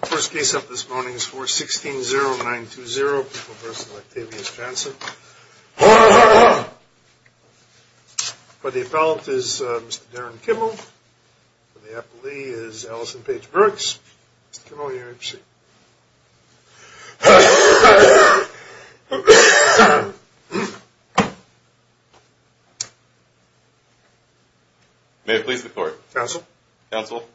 The first case up this morning is 4160920, a person like Tavius Johnson. For the appellant is Mr. Darren Kimmel. For the appellee is Allison Paige Brooks. Mr. Kimmel, you may proceed. May it please the court. Counsel. Counsel.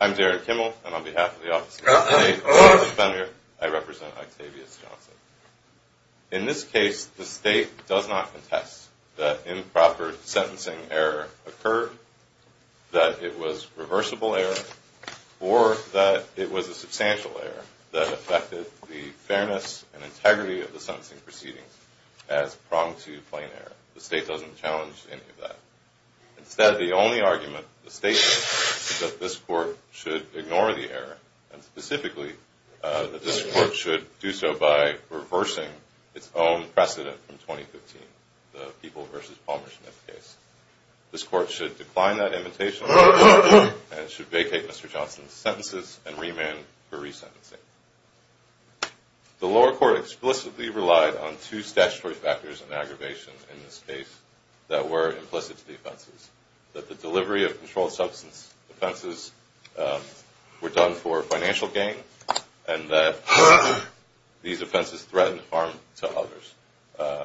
I'm Darren Kimmel, and on behalf of the Office of the Appellate Defender, I represent Octavius Johnson. In this case, the state does not contest that improper sentencing error occurred, that it was reversible error, or that it was a substantial error that affected the fairness and integrity of the sentencing proceedings as pronged to plain error. The state doesn't challenge any of that. Instead, the only argument the state makes is that this court should ignore the error, and specifically that this court should do so by reversing its own precedent from 2015, the People v. Palmer Smith case. This court should decline that invitation and should vacate Mr. Johnson's sentences and remand for resentencing. The lower court explicitly relied on two statutory factors and aggravations in this case that were implicit to the offenses, that the delivery of controlled substance offenses were done for financial gain, and that these offenses threatened harm to others.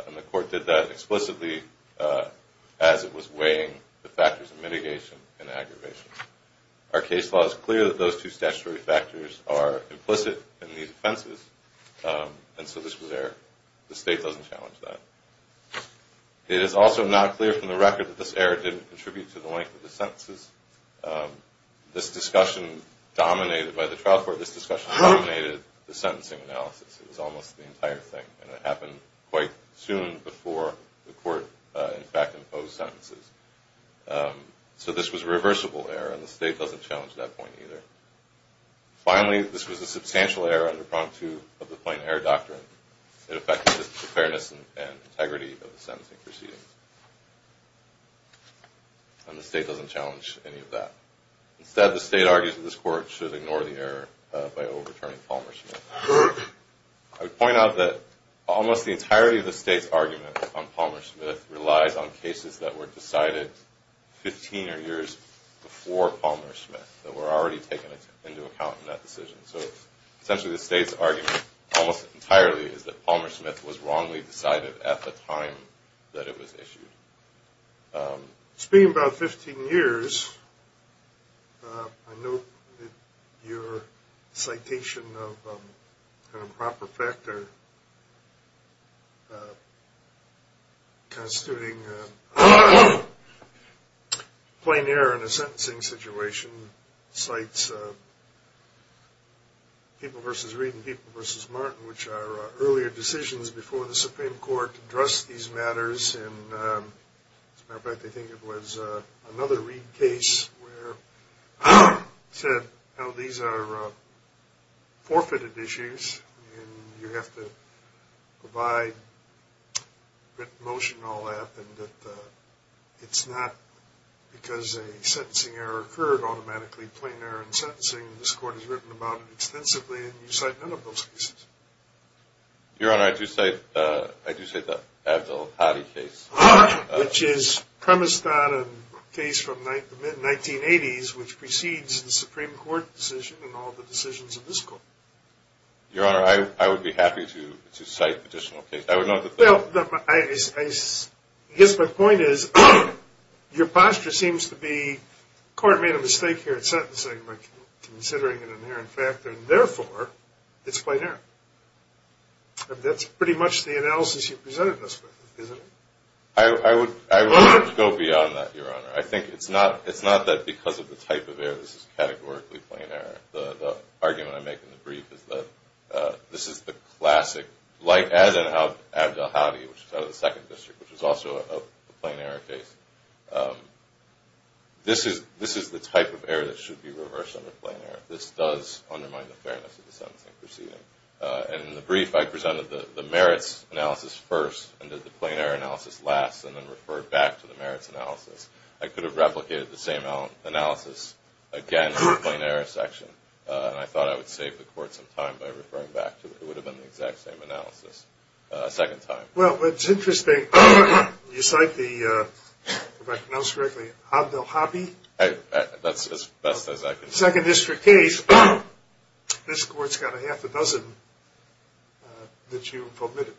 And the court did that explicitly as it was weighing the factors of mitigation and aggravation. Our case law is clear that those two statutory factors are implicit in these offenses, and so this was error. The state doesn't challenge that. It is also not clear from the record that this error didn't contribute to the length of the sentences. This discussion dominated by the trial court. This discussion dominated the sentencing analysis. It was almost the entire thing, and it happened quite soon before the court, in fact, imposed sentences. So this was a reversible error, and the state doesn't challenge that point either. Finally, this was a substantial error under pronged to of the plain error doctrine. It affected the fairness and integrity of the sentencing proceedings, and the state doesn't challenge any of that. Instead, the state argues that this court should ignore the error by overturning Palmer-Smith. I would point out that almost the entirety of the state's argument on Palmer-Smith relies on cases that were decided 15 or years before Palmer-Smith, that were already taken into account in that decision. So essentially the state's argument almost entirely is that Palmer-Smith was wrongly decided at the time that it was issued. Speaking about 15 years, I note that your citation of improper factor constituting plain error in a sentencing situation cites People v. Reed and People v. Martin, which are earlier decisions before the Supreme Court addressed these matters. As a matter of fact, I think it was another Reed case where it said how these are forfeited issues, and you have to provide written motion and all that, and that it's not because a sentencing error occurred automatically, plain error in sentencing. This Court has written about it extensively, and you cite none of those cases. Your Honor, I do cite the Abdel-Hadi case. Which is premised on a case from the mid-1980s, which precedes the Supreme Court decision and all the decisions of this Court. Your Honor, I would be happy to cite additional cases. Well, I guess my point is your posture seems to be, the Court made a mistake here in sentencing by considering an inherent factor, and therefore it's plain error. That's pretty much the analysis you presented us with, isn't it? I would go beyond that, Your Honor. I think it's not that because of the type of error this is categorically plain error. The argument I make in the brief is that this is the classic, as in Abdel-Hadi, which is out of the Second District, which is also a plain error case. This is the type of error that should be reversed under plain error. This does undermine the fairness of the sentencing proceeding. In the brief, I presented the merits analysis first, and did the plain error analysis last, and then referred back to the merits analysis. I could have replicated the same analysis again in the plain error section, and I thought I would save the Court some time by referring back to it. It would have been the exact same analysis a second time. Well, it's interesting. You cite the, if I can pronounce correctly, Abdel-Hadi. That's as best as I can do. Second District case, this Court's got a half a dozen that you've omitted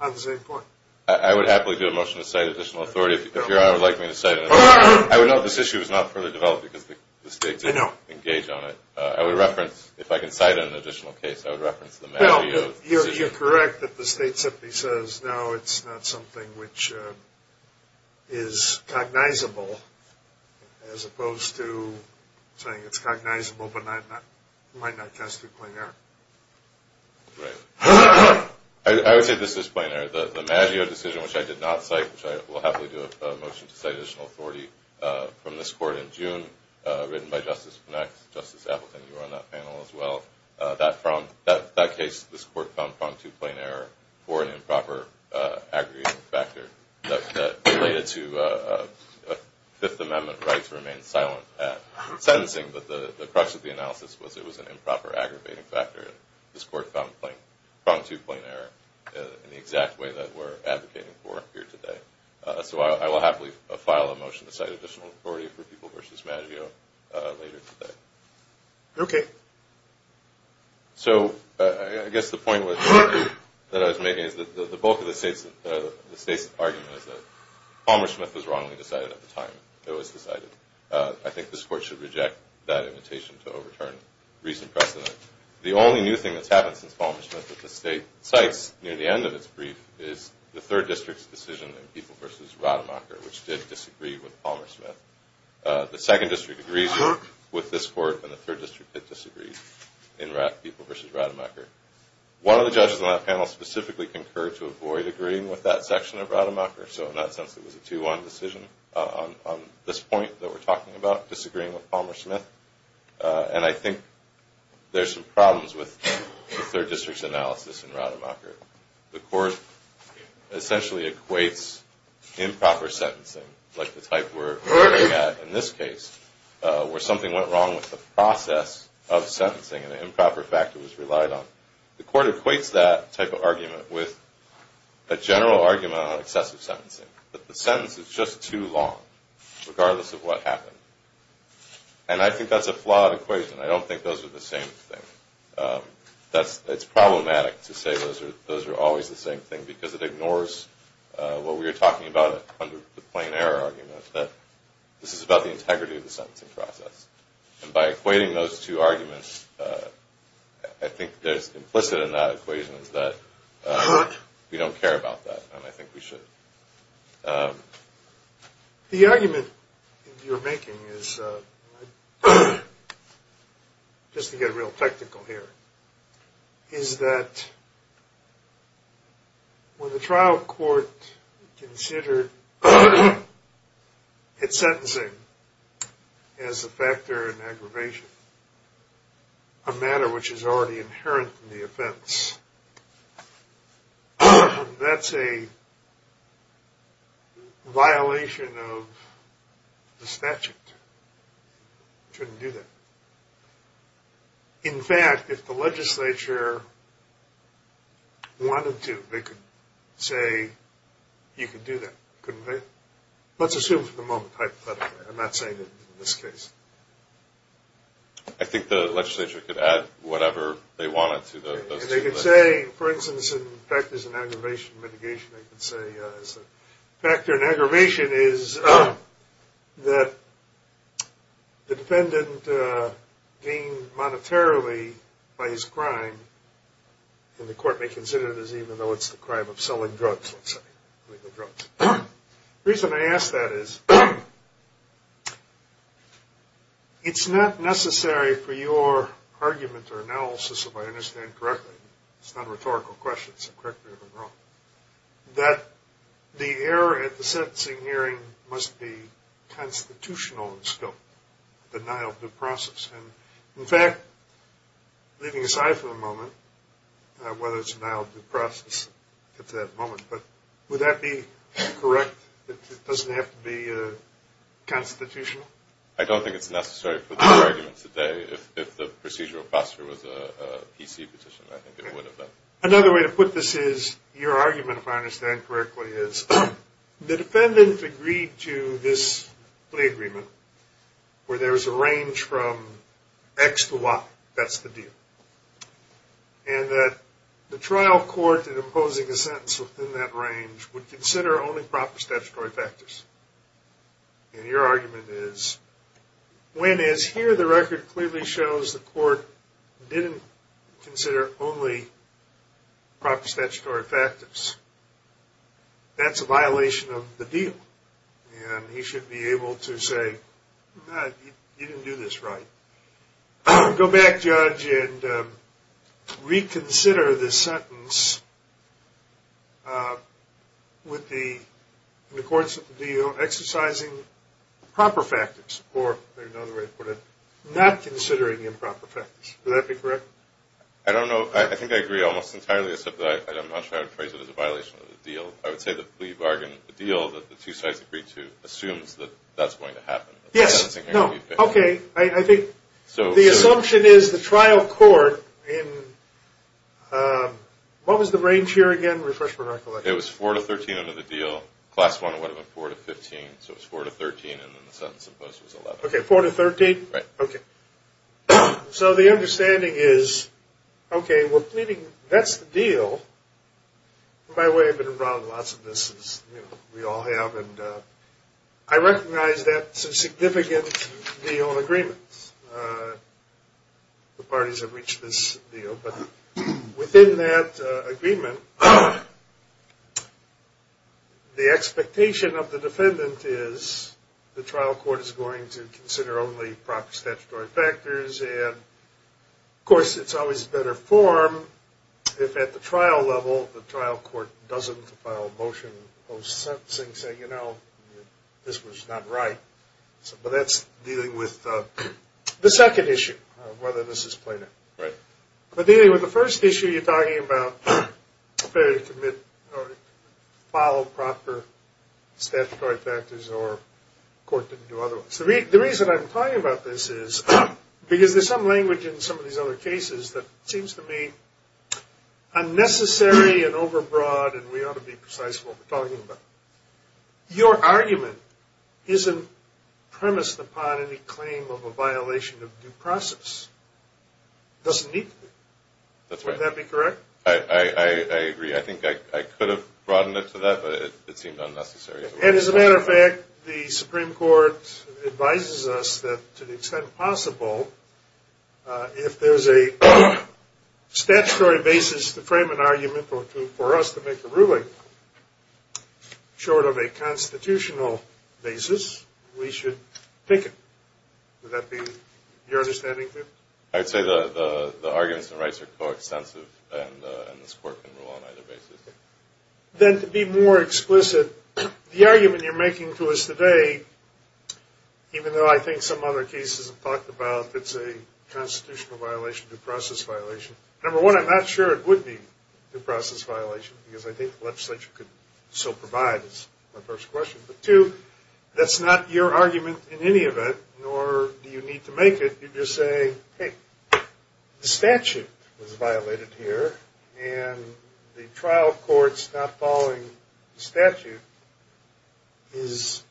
on the same point. I would happily do a motion to cite additional authority if Your Honor would like me to cite it. I would note this issue is not further developed because the State didn't engage on it. I would reference, if I can cite it in an additional case, I would reference the matter you have. You're correct that the State simply says, no, it's not something which is cognizable, as opposed to saying it's cognizable but might not cast it plain error. Right. I would say this is plain error. The Maggio decision, which I did not cite, which I will happily do a motion to cite additional authority from this Court in June, written by Justice Knax, Justice Appleton, you were on that panel as well, that case this Court found found to be plain error for an improper aggravating factor that related to Fifth Amendment rights remain silent at sentencing, but the crux of the analysis was it was an improper aggravating factor. This Court found it to be plain error in the exact way that we're advocating for here today. So I will happily file a motion to cite additional authority for People v. Maggio later today. Okay. So I guess the point that I was making is that the bulk of the State's argument is that Palmer-Smith was wrongly decided at the time it was decided. I think this Court should reject that invitation to overturn recent precedent. The only new thing that's happened since Palmer-Smith that the State cites near the end of its brief is the 3rd District's decision in People v. Rademacher, which did disagree with Palmer-Smith. The 2nd District agrees with this Court, and the 3rd District did disagree in People v. Rademacher. One of the judges on that panel specifically concurred to avoid agreeing with that section of Rademacher, so in that sense it was a 2-1 decision on this point that we're talking about, disagreeing with Palmer-Smith. And I think there's some problems with the 3rd District's analysis in Rademacher. The Court essentially equates improper sentencing, like the type we're looking at in this case, where something went wrong with the process of sentencing and an improper factor was relied on. The Court equates that type of argument with a general argument on excessive sentencing, that the sentence is just too long, regardless of what happened. And I think that's a flawed equation. I don't think those are the same thing. It's problematic to say those are always the same thing because it ignores what we were talking about under the plain error argument, that this is about the integrity of the sentencing process. And by equating those two arguments, I think what's implicit in that equation is that we don't care about that, and I think we should. The argument you're making is, just to get real technical here, is that when the trial court considered its sentencing as a factor in aggravation, a matter which is already inherent in the offense, that's a violation of the statute. It shouldn't do that. In fact, if the legislature wanted to, they could say you could do that, couldn't they? Let's assume for the moment, hypothetically. I'm not saying it in this case. I think the legislature could add whatever they wanted to those two things. They could say, for instance, in factors in aggravation mitigation, they could say a factor in aggravation is that the defendant gained monetarily by his crime, and the court may consider it as even though it's the crime of selling drugs, let's say, illegal drugs. The reason I ask that is, it's not necessary for your argument or analysis, if I understand correctly, it's not a rhetorical question, it's a corrective or wrong, that the error at the sentencing hearing must be constitutional in scope, denial of due process. In fact, leaving aside for the moment, whether it's denial of due process at that moment, would that be correct that it doesn't have to be constitutional? I don't think it's necessary for the argument today. If the procedural process was a PC petition, I think it would have been. Another way to put this is, your argument, if I understand correctly, is the defendant agreed to this plea agreement where there's a range from X to Y, that's the deal, and that the trial court in imposing a sentence within that range would consider only proper statutory factors. And your argument is, when, as here the record clearly shows, the court didn't consider only proper statutory factors, that's a violation of the deal. And he should be able to say, you didn't do this right. Go back, judge, and reconsider the sentence with the courts exercising proper factors, or another way to put it, not considering improper factors. Would that be correct? I don't know. I think I agree almost entirely except that I'm not sure how to phrase it as a violation of the deal. I would say the plea bargain deal that the two sides agreed to assumes that that's going to happen. Yes. No. Okay. I think the assumption is the trial court in, what was the range here again? Refresh my recollection. It was 4 to 13 under the deal. Class 1 would have been 4 to 15, so it was 4 to 13, and then the sentence imposed was 11. Okay. 4 to 13? Right. Okay. So the understanding is, okay, we're pleading, that's the deal. By the way, I've been around lots of this, as we all have, and I recognize that's a significant deal and agreement. The parties have reached this deal, but within that agreement, the expectation of the defendant is the trial court is going to consider only proper statutory factors, and, of course, it's always better form if at the trial level the trial court doesn't file a motion post-sentencing saying, you know, this was not right. But that's dealing with the second issue of whether this is plaintiff. Right. But dealing with the first issue, you're talking about a failure to commit or follow proper statutory factors or the court didn't do otherwise. The reason I'm talking about this is because there's some language in some of these other cases that seems to me unnecessary and overbroad, and we ought to be precise with what we're talking about. Your argument isn't premised upon any claim of a violation of due process. It doesn't need to be. That's right. Would that be correct? I agree. I think I could have broadened it to that, but it seemed unnecessary. And as a matter of fact, the Supreme Court advises us that to the extent possible, if there's a statutory basis to frame an argument or for us to make a ruling short of a constitutional basis, we should pick it. Would that be your understanding? I would say the arguments and rights are coextensive, and this court can rule on either basis. Then to be more explicit, the argument you're making to us today, even though I think some other cases have talked about it's a constitutional violation, due process violation. Number one, I'm not sure it would be a due process violation, because I think the legislature could so provide is my first question. But two, that's not your argument in any event, nor do you need to make it. You just say, hey, the statute was violated here, and the trial court's not following the statute is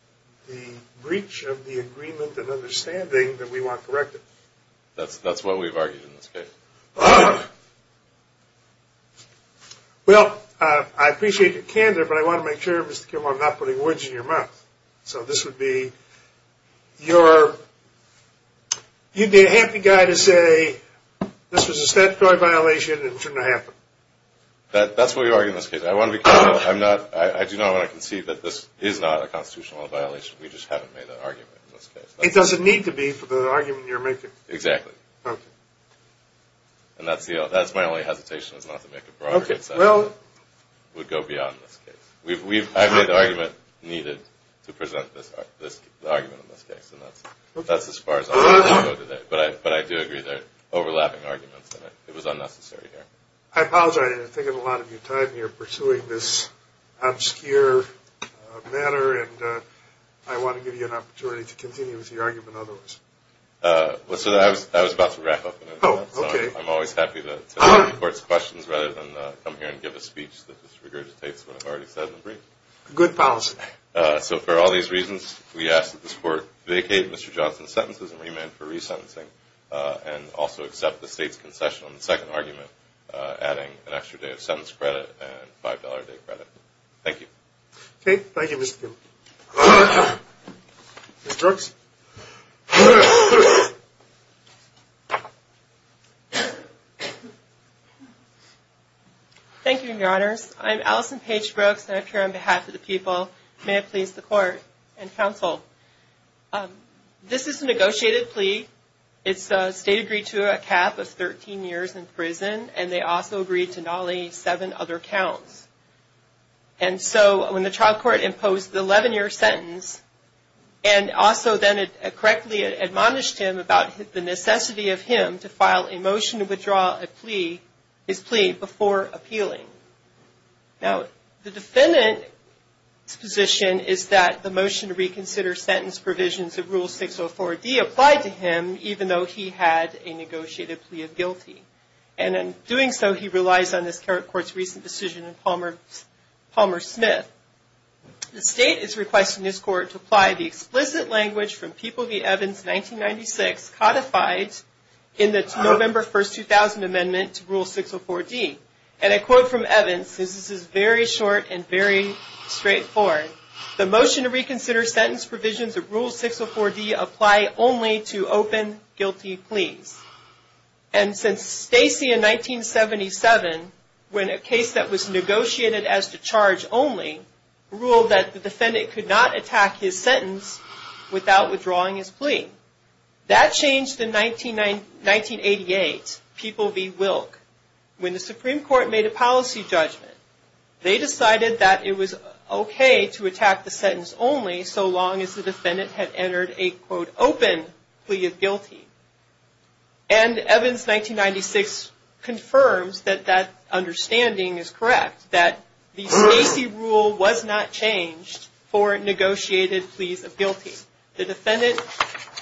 the breach of the agreement and understanding that we want corrected. That's what we've argued in this case. Well, I appreciate your candor, but I want to make sure, Mr. Kimball, I'm not putting words in your mouth. So this would be your – you'd be a happy guy to say this was a statutory violation and it shouldn't have happened. That's what we argue in this case. I do not want to concede that this is not a constitutional violation. We just haven't made that argument in this case. It doesn't need to be for the argument you're making. Exactly. It would go beyond this case. I've made the argument needed to present the argument in this case, and that's as far as I want to go today. But I do agree there are overlapping arguments, and it was unnecessary here. I apologize. I think a lot of your time you're pursuing this obscure matter, and I want to give you an opportunity to continue with your argument otherwise. I was about to wrap up. Oh, okay. I'm always happy to answer the Court's questions rather than come here and give a speech that just regurgitates what I've already said in the brief. Good policy. So for all these reasons, we ask that this Court vacate Mr. Johnson's sentences and remand for resentencing and also accept the State's concession on the second argument, adding an extra day of sentence credit and $5 a day credit. Thank you. Okay. Thank you, Mr. Kimball. Ms. Brooks? Thank you, Your Honors. I'm Allison Paige Brooks, and I appear on behalf of the people. May it please the Court and counsel. This is a negotiated plea. It's State agreed to a cap of 13 years in prison, and they also agreed to not only seven other counts. And so when the trial court imposed the 11-year sentence and also then correctly admonished him about the necessity of him to file a motion to withdraw his plea before appealing. Now, the defendant's position is that the motion to reconsider sentence provisions of Rule 604D applied to him, even though he had a negotiated plea of guilty. And in doing so, he relies on this Court's recent decision in Palmer Smith. The State is requesting this Court to apply the explicit language from People v. Evans, 1996, codified in the November 1, 2000 amendment to Rule 604D. And I quote from Evans. This is very short and very straightforward. The motion to reconsider sentence provisions of Rule 604D apply only to open guilty pleas. And since Stacy in 1977, when a case that was negotiated as to charge only, ruled that the defendant could not attack his sentence without withdrawing his plea. That changed in 1988, People v. Wilk. When the Supreme Court made a policy judgment, they decided that it was okay to attack the sentence only so long as the defendant had entered a, quote, open plea of guilty. And Evans, 1996, confirms that that understanding is correct, that the Stacy rule was not changed for negotiated pleas of guilty. The defendant,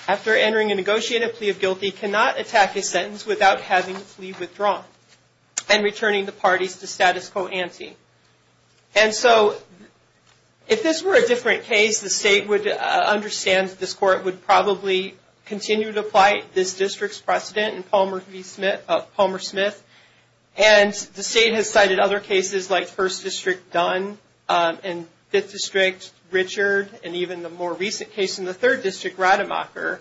after entering a negotiated plea of guilty, cannot attack his sentence without having his plea withdrawn and returning the parties to status quo ante. And so if this were a different case, the State would understand that this Court would probably continue to apply this district's precedent in Palmer Smith. And the State has cited other cases like First District Dunn and Fifth District Richard and even the more recent case in the Third District, Rademacher,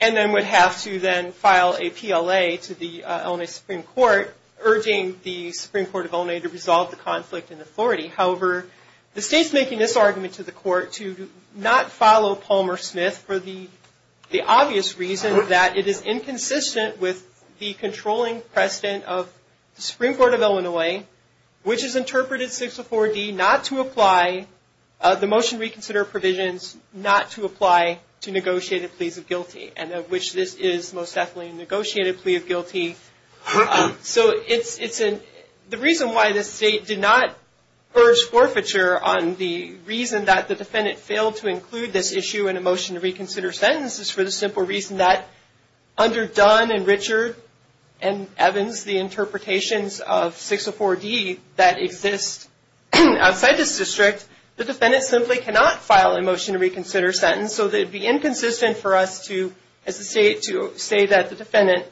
and then would have to then file a PLA to the Illinois Supreme Court, urging the Supreme Court of Illinois to resolve the conflict in authority. However, the State's making this argument to the Court to not follow Palmer Smith for the obvious reason that it is inconsistent with the controlling precedent of the Supreme Court of Illinois, which has interpreted 604D not to apply the motion reconsider provisions not to apply to negotiated pleas of guilty, and of which this is most definitely a negotiated plea of guilty. So the reason why the State did not purge forfeiture on the reason that the defendant failed to include this issue in a motion to reconsider sentence is for the simple reason that under Dunn and Richard and Evans, the interpretations of 604D that exist outside this district, the defendant simply cannot file a motion to reconsider sentence, so it would be inconsistent for us to say that the defendant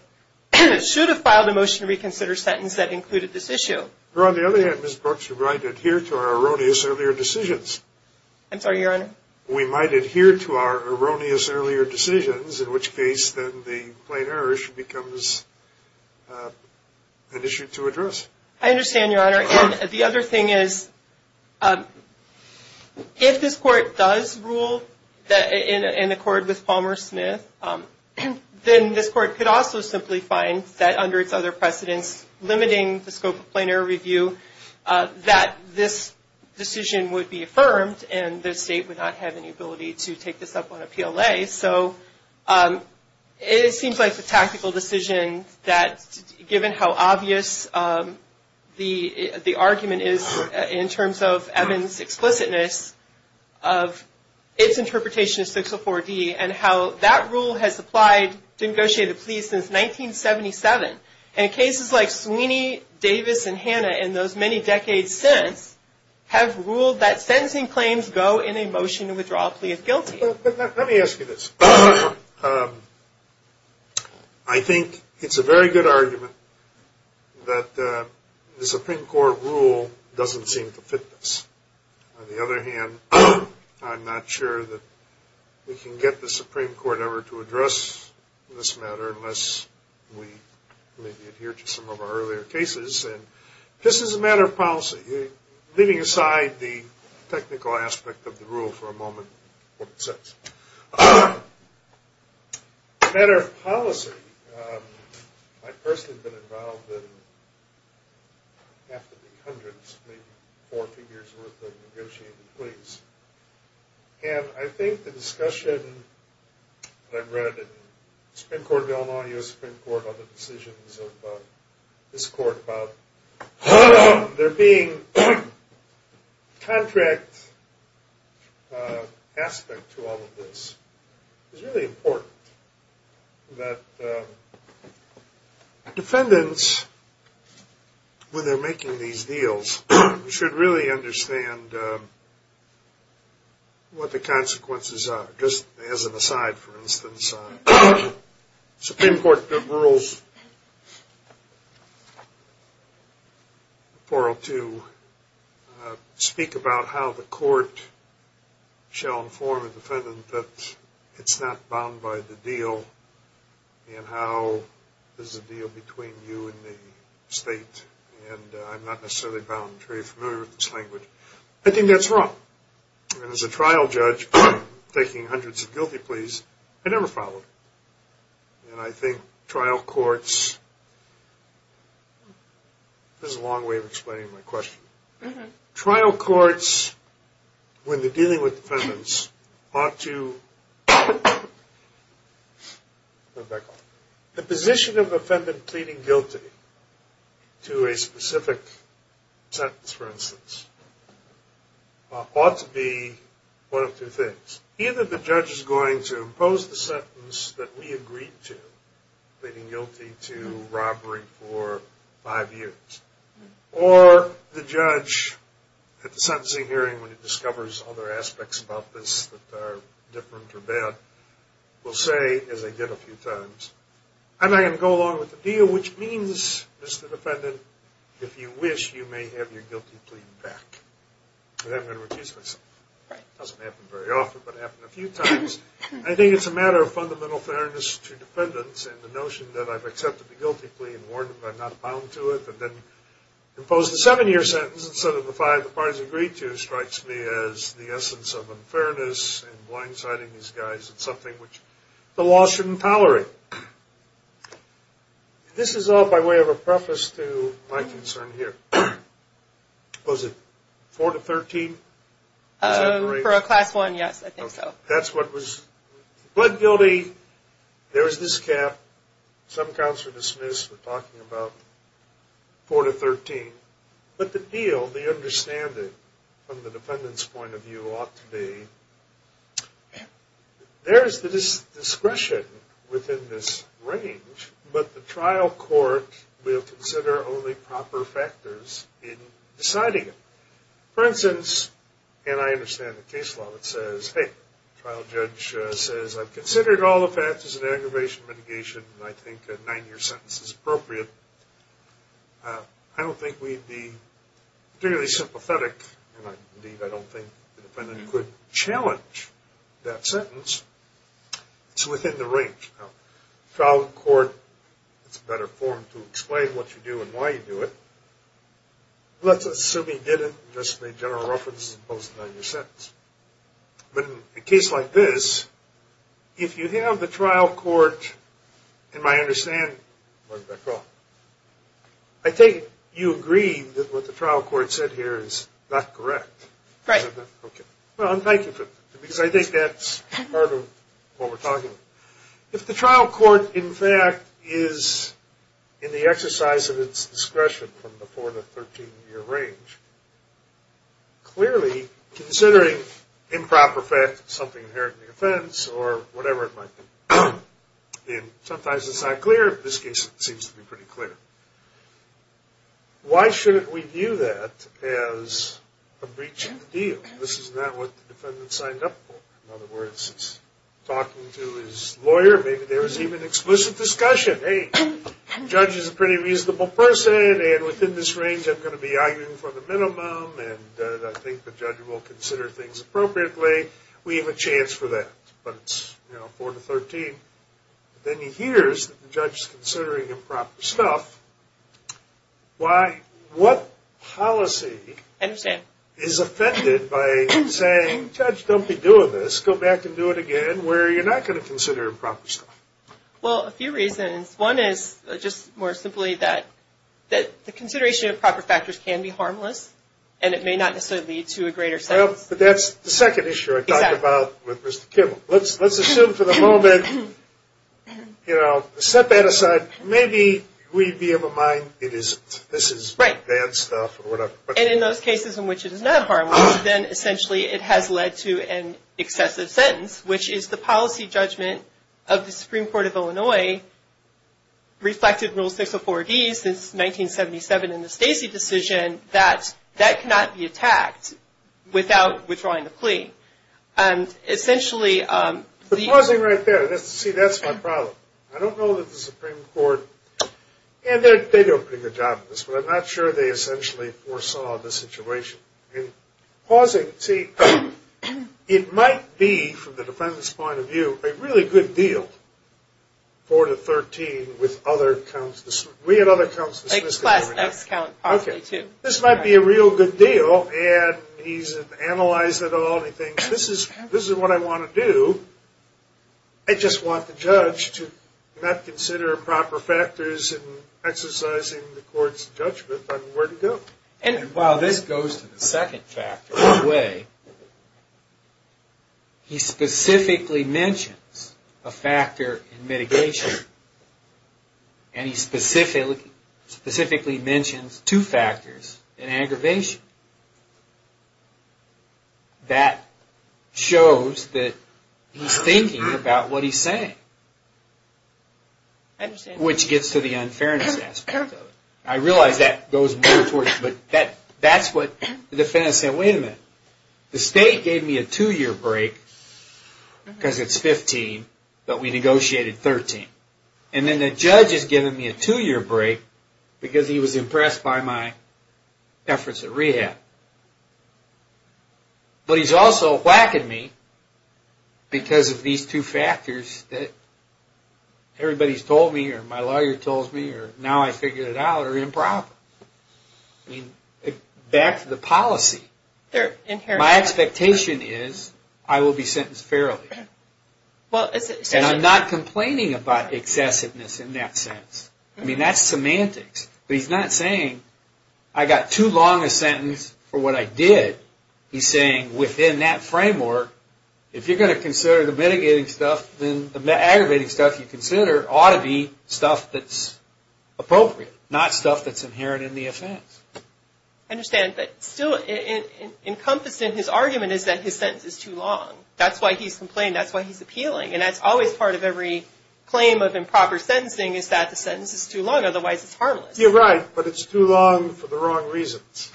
should have filed a motion to reconsider sentence that included this issue. On the other hand, Ms. Brooks, we might adhere to our erroneous earlier decisions. I'm sorry, Your Honor? We might adhere to our erroneous earlier decisions, in which case then the plain error issue becomes an issue to address. I understand, Your Honor. And the other thing is if this Court does rule in accord with Palmer Smith, then this Court could also simply find that under its other precedents limiting the scope of plain error review that this decision would be affirmed and the State would not have any ability to take this up on a PLA. So it seems like the tactical decision that given how obvious the argument is in terms of Evans' explicitness of its interpretation of 604D and how that rule has applied to negotiated pleas since 1977. And cases like Sweeney, Davis, and Hanna, in those many decades since, have ruled that sentencing claims go in a motion to withdraw a plea of guilty. Let me ask you this. I think it's a very good argument that the Supreme Court rule doesn't seem to fit this. On the other hand, I'm not sure that we can get the Supreme Court ever to address this matter unless we maybe adhere to some of our earlier cases. And this is a matter of policy. Leaving aside the technical aspect of the rule for a moment, what it says. It's a matter of policy. I personally have been involved in hundreds, maybe four figures worth of negotiated pleas. And I think the discussion that I've read in the Supreme Court of Illinois, is really important. That defendants, when they're making these deals, should really understand what the consequences are. Just as an aside, for instance, Supreme Court rules 402, speak about how the court shall inform a defendant that it's not bound by the deal, and how there's a deal between you and the state. And I'm not necessarily bound, I'm very familiar with this language. I think that's wrong. And as a trial judge, taking hundreds of guilty pleas, I never followed. And I think trial courts, this is a long way of explaining my question. Trial courts, when they're dealing with defendants, ought to, The position of a defendant pleading guilty to a specific sentence, for instance, ought to be one of two things. Either the judge is going to impose the sentence that we agreed to, pleading guilty to robbery for five years. Or the judge, at the sentencing hearing, when he discovers other aspects about this that are different or bad, will say, as I did a few times, I'm not going to go along with the deal, which means, Mr. Defendant, if you wish, you may have your guilty plea back. Because I'm going to refuse myself. It doesn't happen very often, but it happened a few times. I think it's a matter of fundamental fairness to defendants, and the notion that I've accepted the guilty plea and warned them I'm not bound to it, but then impose the seven-year sentence instead of the five the parties agreed to strikes me as the essence of unfairness and blindsiding these guys in something which the law shouldn't tolerate. This is all by way of a preface to my concern here. Was it four to 13? For a class one, yes, I think so. That's what was pled guilty. There was this cap. Some counts were dismissed. We're talking about four to 13. But the deal, the understanding from the defendant's point of view ought to be, there's the discretion within this range, but the trial court will consider only proper factors in deciding it. For instance, and I understand the case law that says, hey, trial judge says I've considered all the factors of aggravation, mitigation, and I think a nine-year sentence is appropriate. I don't think we'd be particularly sympathetic, and indeed I don't think the defendant could challenge that sentence. It's within the range. Now, trial court, it's a better form to explain what you do and why you do it. Let's assume you did it and just made general references as opposed to a nine-year sentence. But in a case like this, if you have the trial court, in my understanding, I think you agree that what the trial court said here is not correct. Right. Okay. Well, thank you for that, because I think that's part of what we're talking about. If the trial court, in fact, is in the exercise of its discretion from the four to 13-year range, clearly, considering improper fact, something inherently offense, or whatever it might be, and sometimes it's not clear. In this case, it seems to be pretty clear. Why shouldn't we view that as a breach of the deal? This is not what the defendant signed up for. In other words, he's talking to his lawyer. Maybe there was even explicit discussion. Hey, the judge is a pretty reasonable person, and within this range, I'm going to be arguing for the minimum, and I think the judge will consider things appropriately. We have a chance for that. But it's four to 13. Then he hears that the judge is considering improper stuff. Why? What policy is offended by saying, Judge, don't be doing this. Go back and do it again, where you're not going to consider improper stuff? Well, a few reasons. One is just more simply that the consideration of improper factors can be harmless, and it may not necessarily lead to a greater sentence. But that's the second issue I talked about with Mr. Kimmel. Let's assume for the moment, you know, set that aside. Maybe we'd be of a mind it isn't. This is bad stuff or whatever. And in those cases in which it is not harmless, then essentially it has led to an excessive sentence, which is the policy judgment of the Supreme Court of Illinois, reflected in Rule 604D since 1977 in the Stacy decision, that that cannot be attacked without withdrawing the plea. And essentially the- Pausing right there. See, that's my problem. I don't know that the Supreme Court, and they do a pretty good job of this, but I'm not sure they essentially foresaw the situation. Pausing. See, it might be, from the defendant's point of view, a really good deal, 4 to 13, with other counts. We had other counts. Like class X count, partly, too. Okay. This might be a real good deal, and he's analyzed it all, and he thinks, this is what I want to do. I just want the judge to not consider improper factors in exercising the court's judgment on where to go. And while this goes to the second factor, one way he specifically mentions a factor in mitigation, and he specifically mentions two factors in aggravation. That shows that he's thinking about what he's saying, and I realize that goes more towards, but that's what the defendant said. Wait a minute. The state gave me a two-year break because it's 15, but we negotiated 13. And then the judge is giving me a two-year break because he was impressed by my efforts at rehab. But he's also whacking me because of these two factors that everybody's told me, or my lawyer told me, or now I figured it out, are improper. Back to the policy. My expectation is I will be sentenced fairly. And I'm not complaining about excessiveness in that sense. I mean, that's semantics. But he's not saying I got too long a sentence for what I did. He's saying within that framework, if you're going to consider the mitigating stuff, then the aggravating stuff you consider ought to be stuff that's appropriate, not stuff that's inherent in the offense. I understand. But still encompassed in his argument is that his sentence is too long. That's why he's complaining. That's why he's appealing. And that's always part of every claim of improper sentencing is that the sentence is too long, otherwise it's harmless. You're right, but it's too long for the wrong reasons.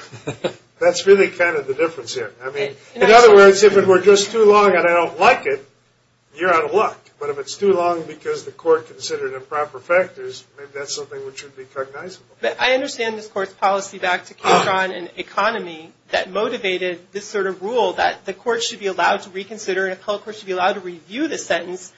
That's really kind of the difference here. I mean, in other words, if it were just too long and I don't like it, you're out of luck. But if it's too long because the court considered improper factors, maybe that's something which should be cognizable. But I understand this court's policy back to Katron and economy that motivated this sort of rule that the court should be allowed to reconsider and a public court should be allowed to review the sentence.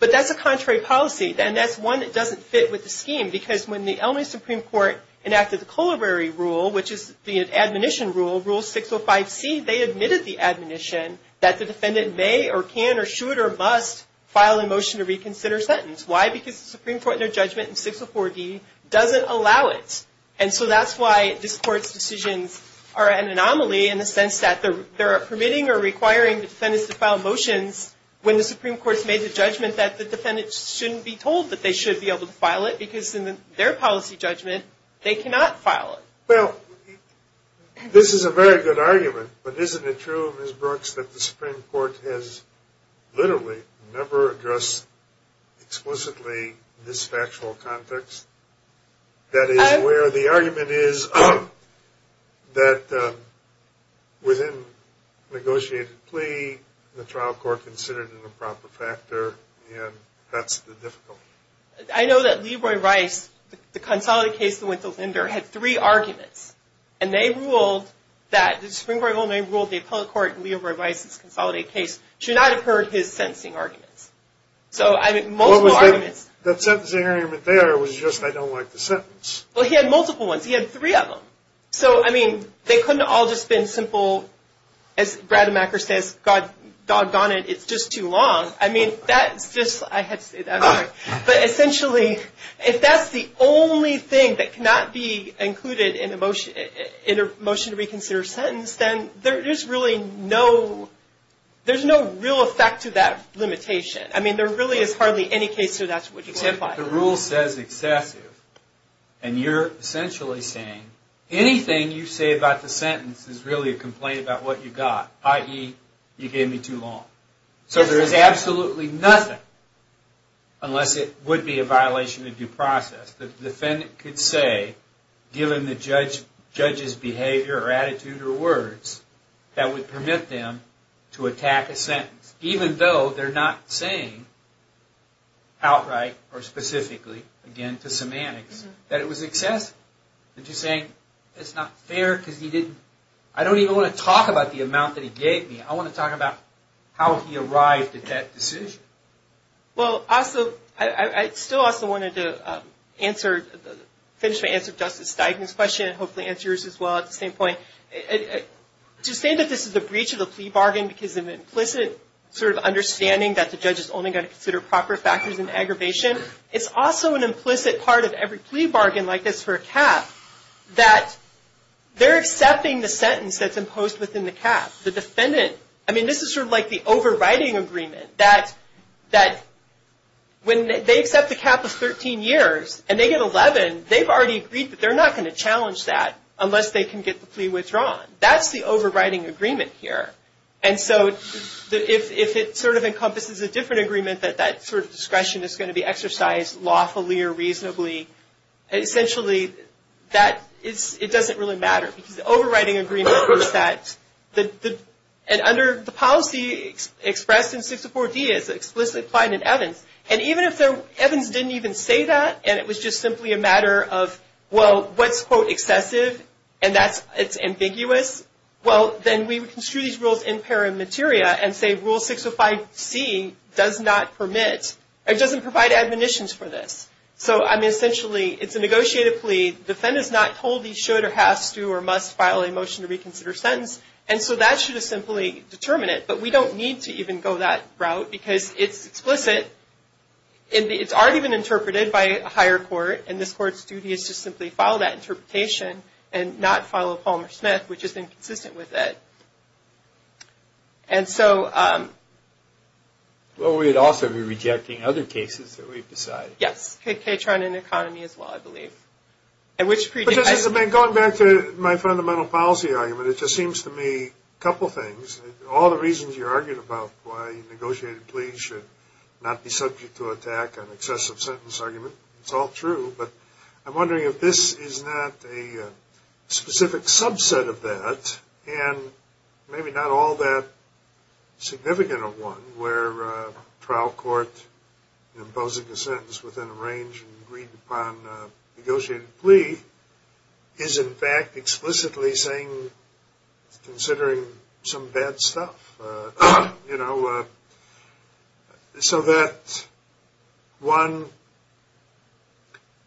But that's a contrary policy, and that's one that doesn't fit with the scheme because when the Elmley Supreme Court enacted the Colerary Rule, which is the admonition rule, Rule 605C, they admitted the admonition that the defendant may or can or should or must file a motion to reconsider a sentence. Why? Because the Supreme Court in their judgment in 604D doesn't allow it. And so that's why this court's decisions are an anomaly in the sense that they're permitting or requiring defendants to file motions when the Supreme Court's made the judgment that the defendant shouldn't be told that they should be able to file it because in their policy judgment they cannot file it. Well, this is a very good argument, but isn't it true, Ms. Brooks, that the Supreme Court has literally never addressed explicitly this factual context? That is, where the argument is that within negotiated plea, the trial court considered it a proper factor, and that's the difficulty. I know that Leroy Rice, the consolidated case that went to Linder, had three arguments, and they ruled that the Supreme Court only ruled the appellate court in Leroy Rice's consolidated case should not have heard his sentencing arguments. So, I mean, multiple arguments. That sentencing argument there was just, I don't like the sentence. Well, he had multiple ones. He had three of them. So, I mean, they couldn't have all just been simple, as Brademacker says, doggone it, it's just too long. I mean, that's just, I had to say that. But essentially, if that's the only thing that cannot be included in a motion to reconsider sentence, then there's really no, there's no real effect to that limitation. I mean, there really is hardly any case where that's what you simplify. The rule says excessive, and you're essentially saying anything you say about the sentence is really a complaint about what you got, i.e., you gave me too long. So, there is absolutely nothing, unless it would be a violation of due process. The defendant could say, given the judge's behavior or attitude or words, that would permit them to attack a sentence, even though they're not saying outright or specifically, again, to semantics, that it was excessive. They're just saying, it's not fair because he didn't, I don't even want to talk about the amount that he gave me. I want to talk about how he arrived at that decision. Well, also, I still also wanted to answer, finish my answer to Justice Steigman's question, and hopefully answer yours as well at the same point. To say that this is a breach of the plea bargain because of implicit sort of understanding that the judge is only going to consider proper factors in the cap, that they're accepting the sentence that's imposed within the cap. The defendant, I mean, this is sort of like the overriding agreement that when they accept the cap of 13 years and they get 11, they've already agreed that they're not going to challenge that unless they can get the plea withdrawn. That's the overriding agreement here. And so, if it sort of encompasses a different agreement that that sort of exercise lawfully or reasonably, essentially, it doesn't really matter. Because the overriding agreement is that, and under the policy expressed in 604D is explicitly applied in Evans. And even if Evans didn't even say that, and it was just simply a matter of, well, what's, quote, excessive, and it's ambiguous, well, then we would construe these rules in paramateria and say Rule 605C does not permit, or doesn't provide admonitions for this. So, I mean, essentially, it's a negotiated plea. Defendant's not told he should or has to or must file a motion to reconsider sentence, and so that should have simply determined it. But we don't need to even go that route because it's explicit, and it's already been interpreted by a higher court, and this court's duty is to simply file that interpretation and not follow Palmer Smith, which has been consistent with it. And so we'd also be rejecting other cases that we've decided. Yes, Ketron and Economy as well, I believe. Going back to my fundamental policy argument, it just seems to me a couple things. All the reasons you argued about why a negotiated plea should not be subject to attack on excessive sentence argument, it's all true, but I'm wondering if this is not a specific subset of that, and maybe not all that significant of one where a trial court imposing a sentence within a range and agreed upon a negotiated plea is, in fact, explicitly saying it's considering some bad stuff. You know, so that, one,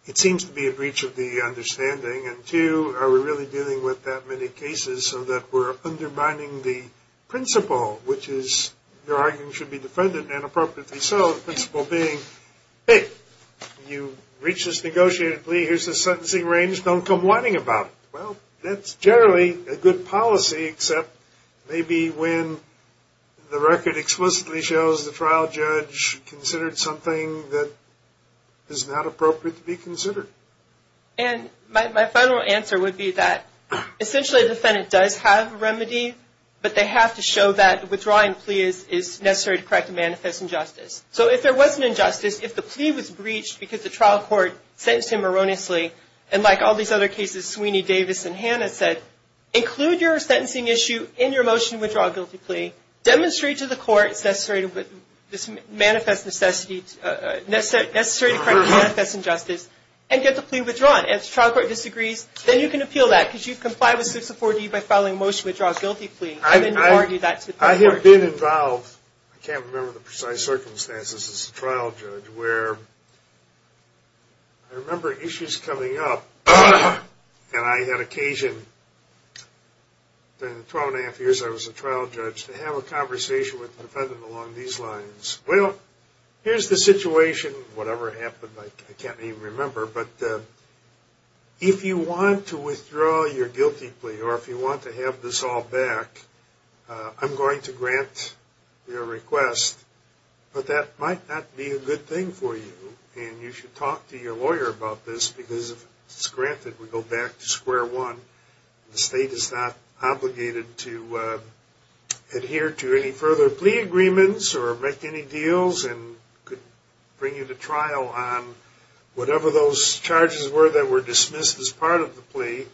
it seems to be a breach of the understanding, and two, are we really dealing with that many cases so that we're undermining the principle, which is your argument should be defended and appropriately so, the principle being, hey, you reach this negotiated plea, here's the sentencing range, don't come whining about it. Well, that's generally a good policy, except maybe when the record explicitly shows the trial judge considered something that is not appropriate to be considered. And my final answer would be that essentially the defendant does have a remedy, but they have to show that withdrawing a plea is necessary to correct a manifest injustice. So if there was an injustice, if the plea was breached because the trial court sentenced him erroneously, and like all these other cases Sweeney, Davis, and Hannah said, include your sentencing issue in your motion to withdraw a guilty plea, demonstrate to the court it's necessary to correct a manifest injustice and get the plea withdrawn. If the trial court disagrees, then you can appeal that because you've complied with 6 of 4D by filing a motion to withdraw a guilty plea. I didn't argue that. I have been involved, I can't remember the precise circumstances as a trial judge, where I remember issues coming up, and I had occasion in the 12 and a half years I was a trial judge to have a conversation with the defendant along these lines. Well, here's the situation, whatever happened I can't even remember, but if you want to withdraw your guilty plea, or if you want to have this all back, I'm going to grant your request, but that might not be a good thing for you, and you should talk to your lawyer about this because if it's granted, we go back to square one. The state is not obligated to adhere to any further plea agreements or make any deals and could bring you to trial on whatever those charges were that were dismissed as part of the plea.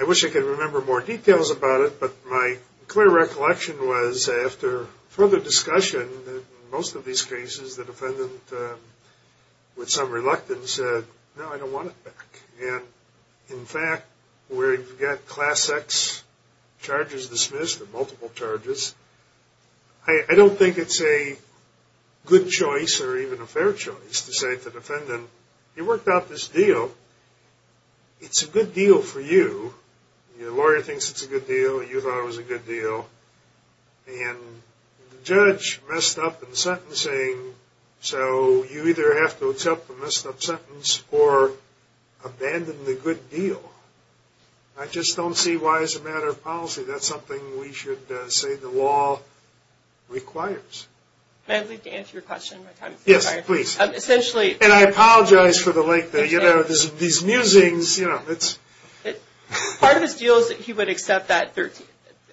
I wish I could remember more details about it, but my clear recollection was after further discussion that in most of these cases the defendant with some reluctance said, no I don't want it back, and in fact where you've got class X charges dismissed or multiple charges, I don't think it's a good choice or even a fair choice to say to the defendant, you worked out this deal, it's a good deal for you, your lawyer thinks it's a good deal, you thought it was a good deal, and the judge messed up in sentencing, so you either have to accept the messed up sentence or abandon the good deal. I just don't see why as a matter of policy that's something we should say that the law requires. Can I leave to answer your question? Yes, please. And I apologize for the late, these musings. Part of his deal is that he would accept that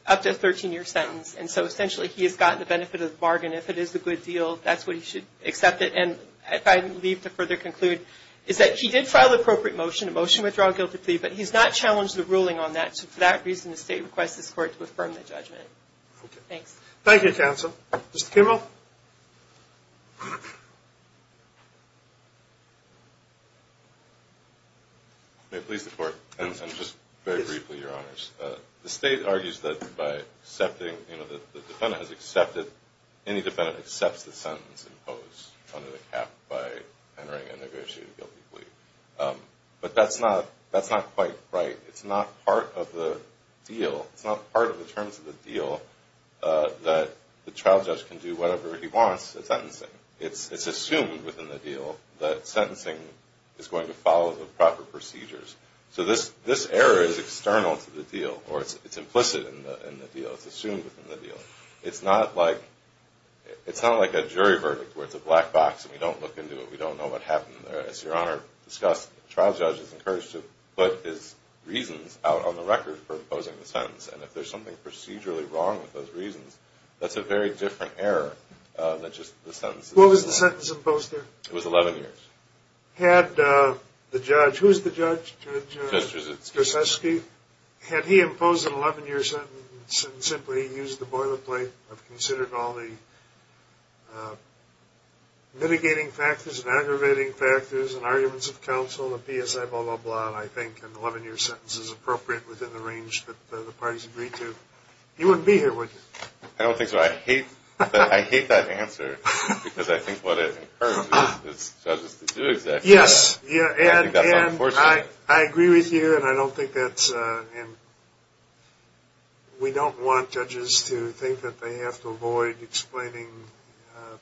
up to a 13-year sentence, and so essentially he has gotten the benefit of the bargain. If it is a good deal, that's what he should accept it, and if I leave to further conclude, is that he did file an appropriate motion, a motion to withdraw a guilty plea, but he's not challenged the ruling on that, and so for that reason, the state requests this court to affirm the judgment. Thanks. Thank you, counsel. Mr. Kimmel? May it please the court, and just very briefly, your honors, the state argues that by accepting, you know, the defendant has accepted, any defendant accepts the sentence imposed under the cap by entering a negotiated guilty plea, but that's not quite right. It's not part of the deal. It's not part of the terms of the deal that the trial judge can do whatever he wants at sentencing. It's assumed within the deal that sentencing is going to follow the proper procedures. So this error is external to the deal, or it's implicit in the deal. It's assumed within the deal. It's not like a jury verdict where it's a black box and we don't look into it. We don't know what happened there. The trial judge is encouraged to put his reasons out on the record for imposing the sentence, and if there's something procedurally wrong with those reasons, that's a very different error than just the sentence. What was the sentence imposed there? It was 11 years. Had the judge, who was the judge? Judge Strasetsky. Had he imposed an 11-year sentence and simply used the boilerplate of considering all the mitigating factors and aggravating factors and arguments of counsel, the PSI, blah, blah, blah, and I think an 11-year sentence is appropriate within the range that the parties agreed to. You wouldn't be here, would you? I don't think so. I hate that answer because I think what it encourages is judges to do exactly that. Yes. I think that's unfortunate. I agree with you, and I don't think that's – we don't want judges to think that they have to avoid explaining.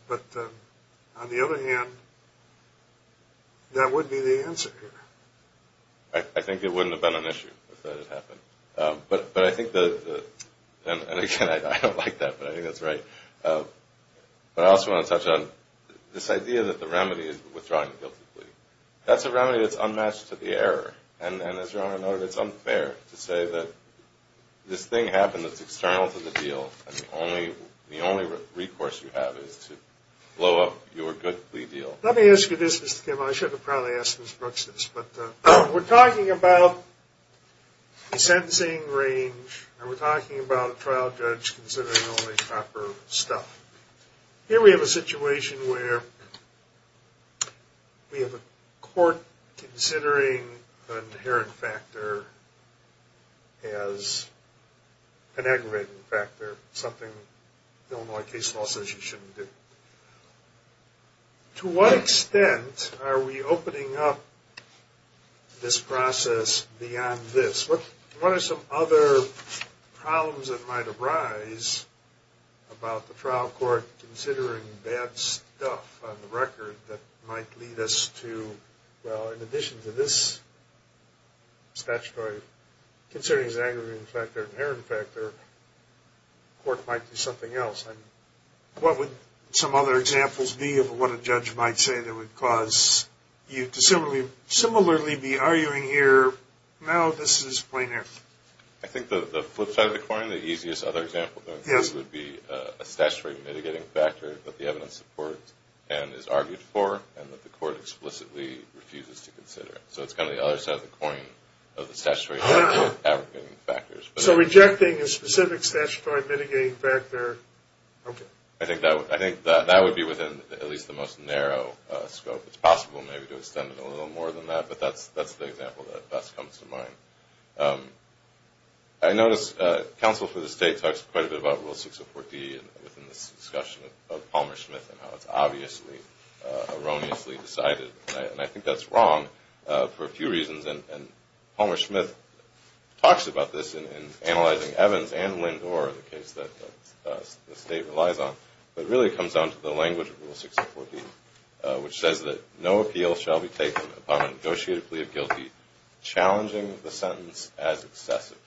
But on the other hand, that would be the answer here. I think it wouldn't have been an issue if that had happened. But I think the – and again, I don't like that, but I think that's right. But I also want to touch on this idea that the remedy is withdrawing the guilty plea. That's a remedy that's unmatched to the error, and as Your Honor noted, it's unfair to say that this thing happened that's external to the deal and the only recourse you have is to blow up your good plea deal. Let me ask you this, Mr. Kim. I should have probably asked Ms. Brooks this, but we're talking about the sentencing range and we're talking about a trial judge considering only proper stuff. Here we have a situation where we have a court considering an inherent factor as an aggravating factor, something the Illinois case law says you shouldn't do. To what extent are we opening up this process beyond this? What are some other problems that might arise about the trial court considering bad stuff on the record that might lead us to, well, in addition to this statutory, considering it's an aggravating factor, inherent factor, the court might do something else. What would some other examples be of what a judge might say that would cause you to similarly be arguing here, now this is plain air? I think the flip side of the coin, the easiest other example would be a statutory mitigating factor that the evidence supports and is argued for and that the court explicitly refuses to consider. So it's kind of the other side of the coin of the statutory aggravating factors. So rejecting a specific statutory mitigating factor, okay. I think that would be within at least the most narrow scope. It's possible maybe to extend it a little more than that, but that's the example that best comes to mind. I notice counsel for the state talks quite a bit about Rule 604D within this discussion of Palmer-Schmidt and how it's obviously erroneously decided, and I think that's wrong for a few reasons, and Palmer-Schmidt talks about this in analyzing Evans and Lindor, the case that the state relies on, but it really comes down to the language of Rule 604D, which says that, no appeal shall be taken upon a negotiated plea of guilty challenging the sentence as excessive.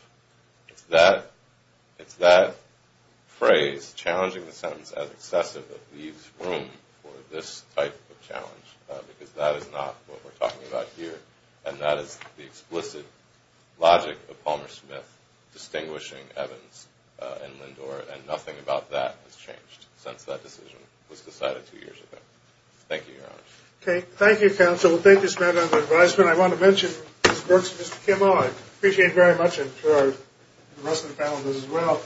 It's that phrase, challenging the sentence as excessive, that leaves room for this type of challenge, because that is not what we're talking about here, and that is the explicit logic of Palmer-Schmidt distinguishing Evans and Lindor, and nothing about that has changed since that decision was decided two years ago. Thank you, Your Honor. Okay. Thank you, counsel. Thank you, Samantha, for the advisement. I want to mention Mr. Berks and Mr. Kimmel. I appreciate very much, and I'm sure the rest of the panel does as well,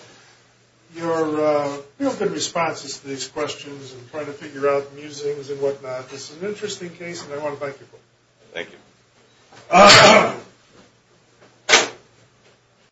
your open responses to these questions and trying to figure out musings and whatnot. It's an interesting case, and I want to thank you for it. Thank you.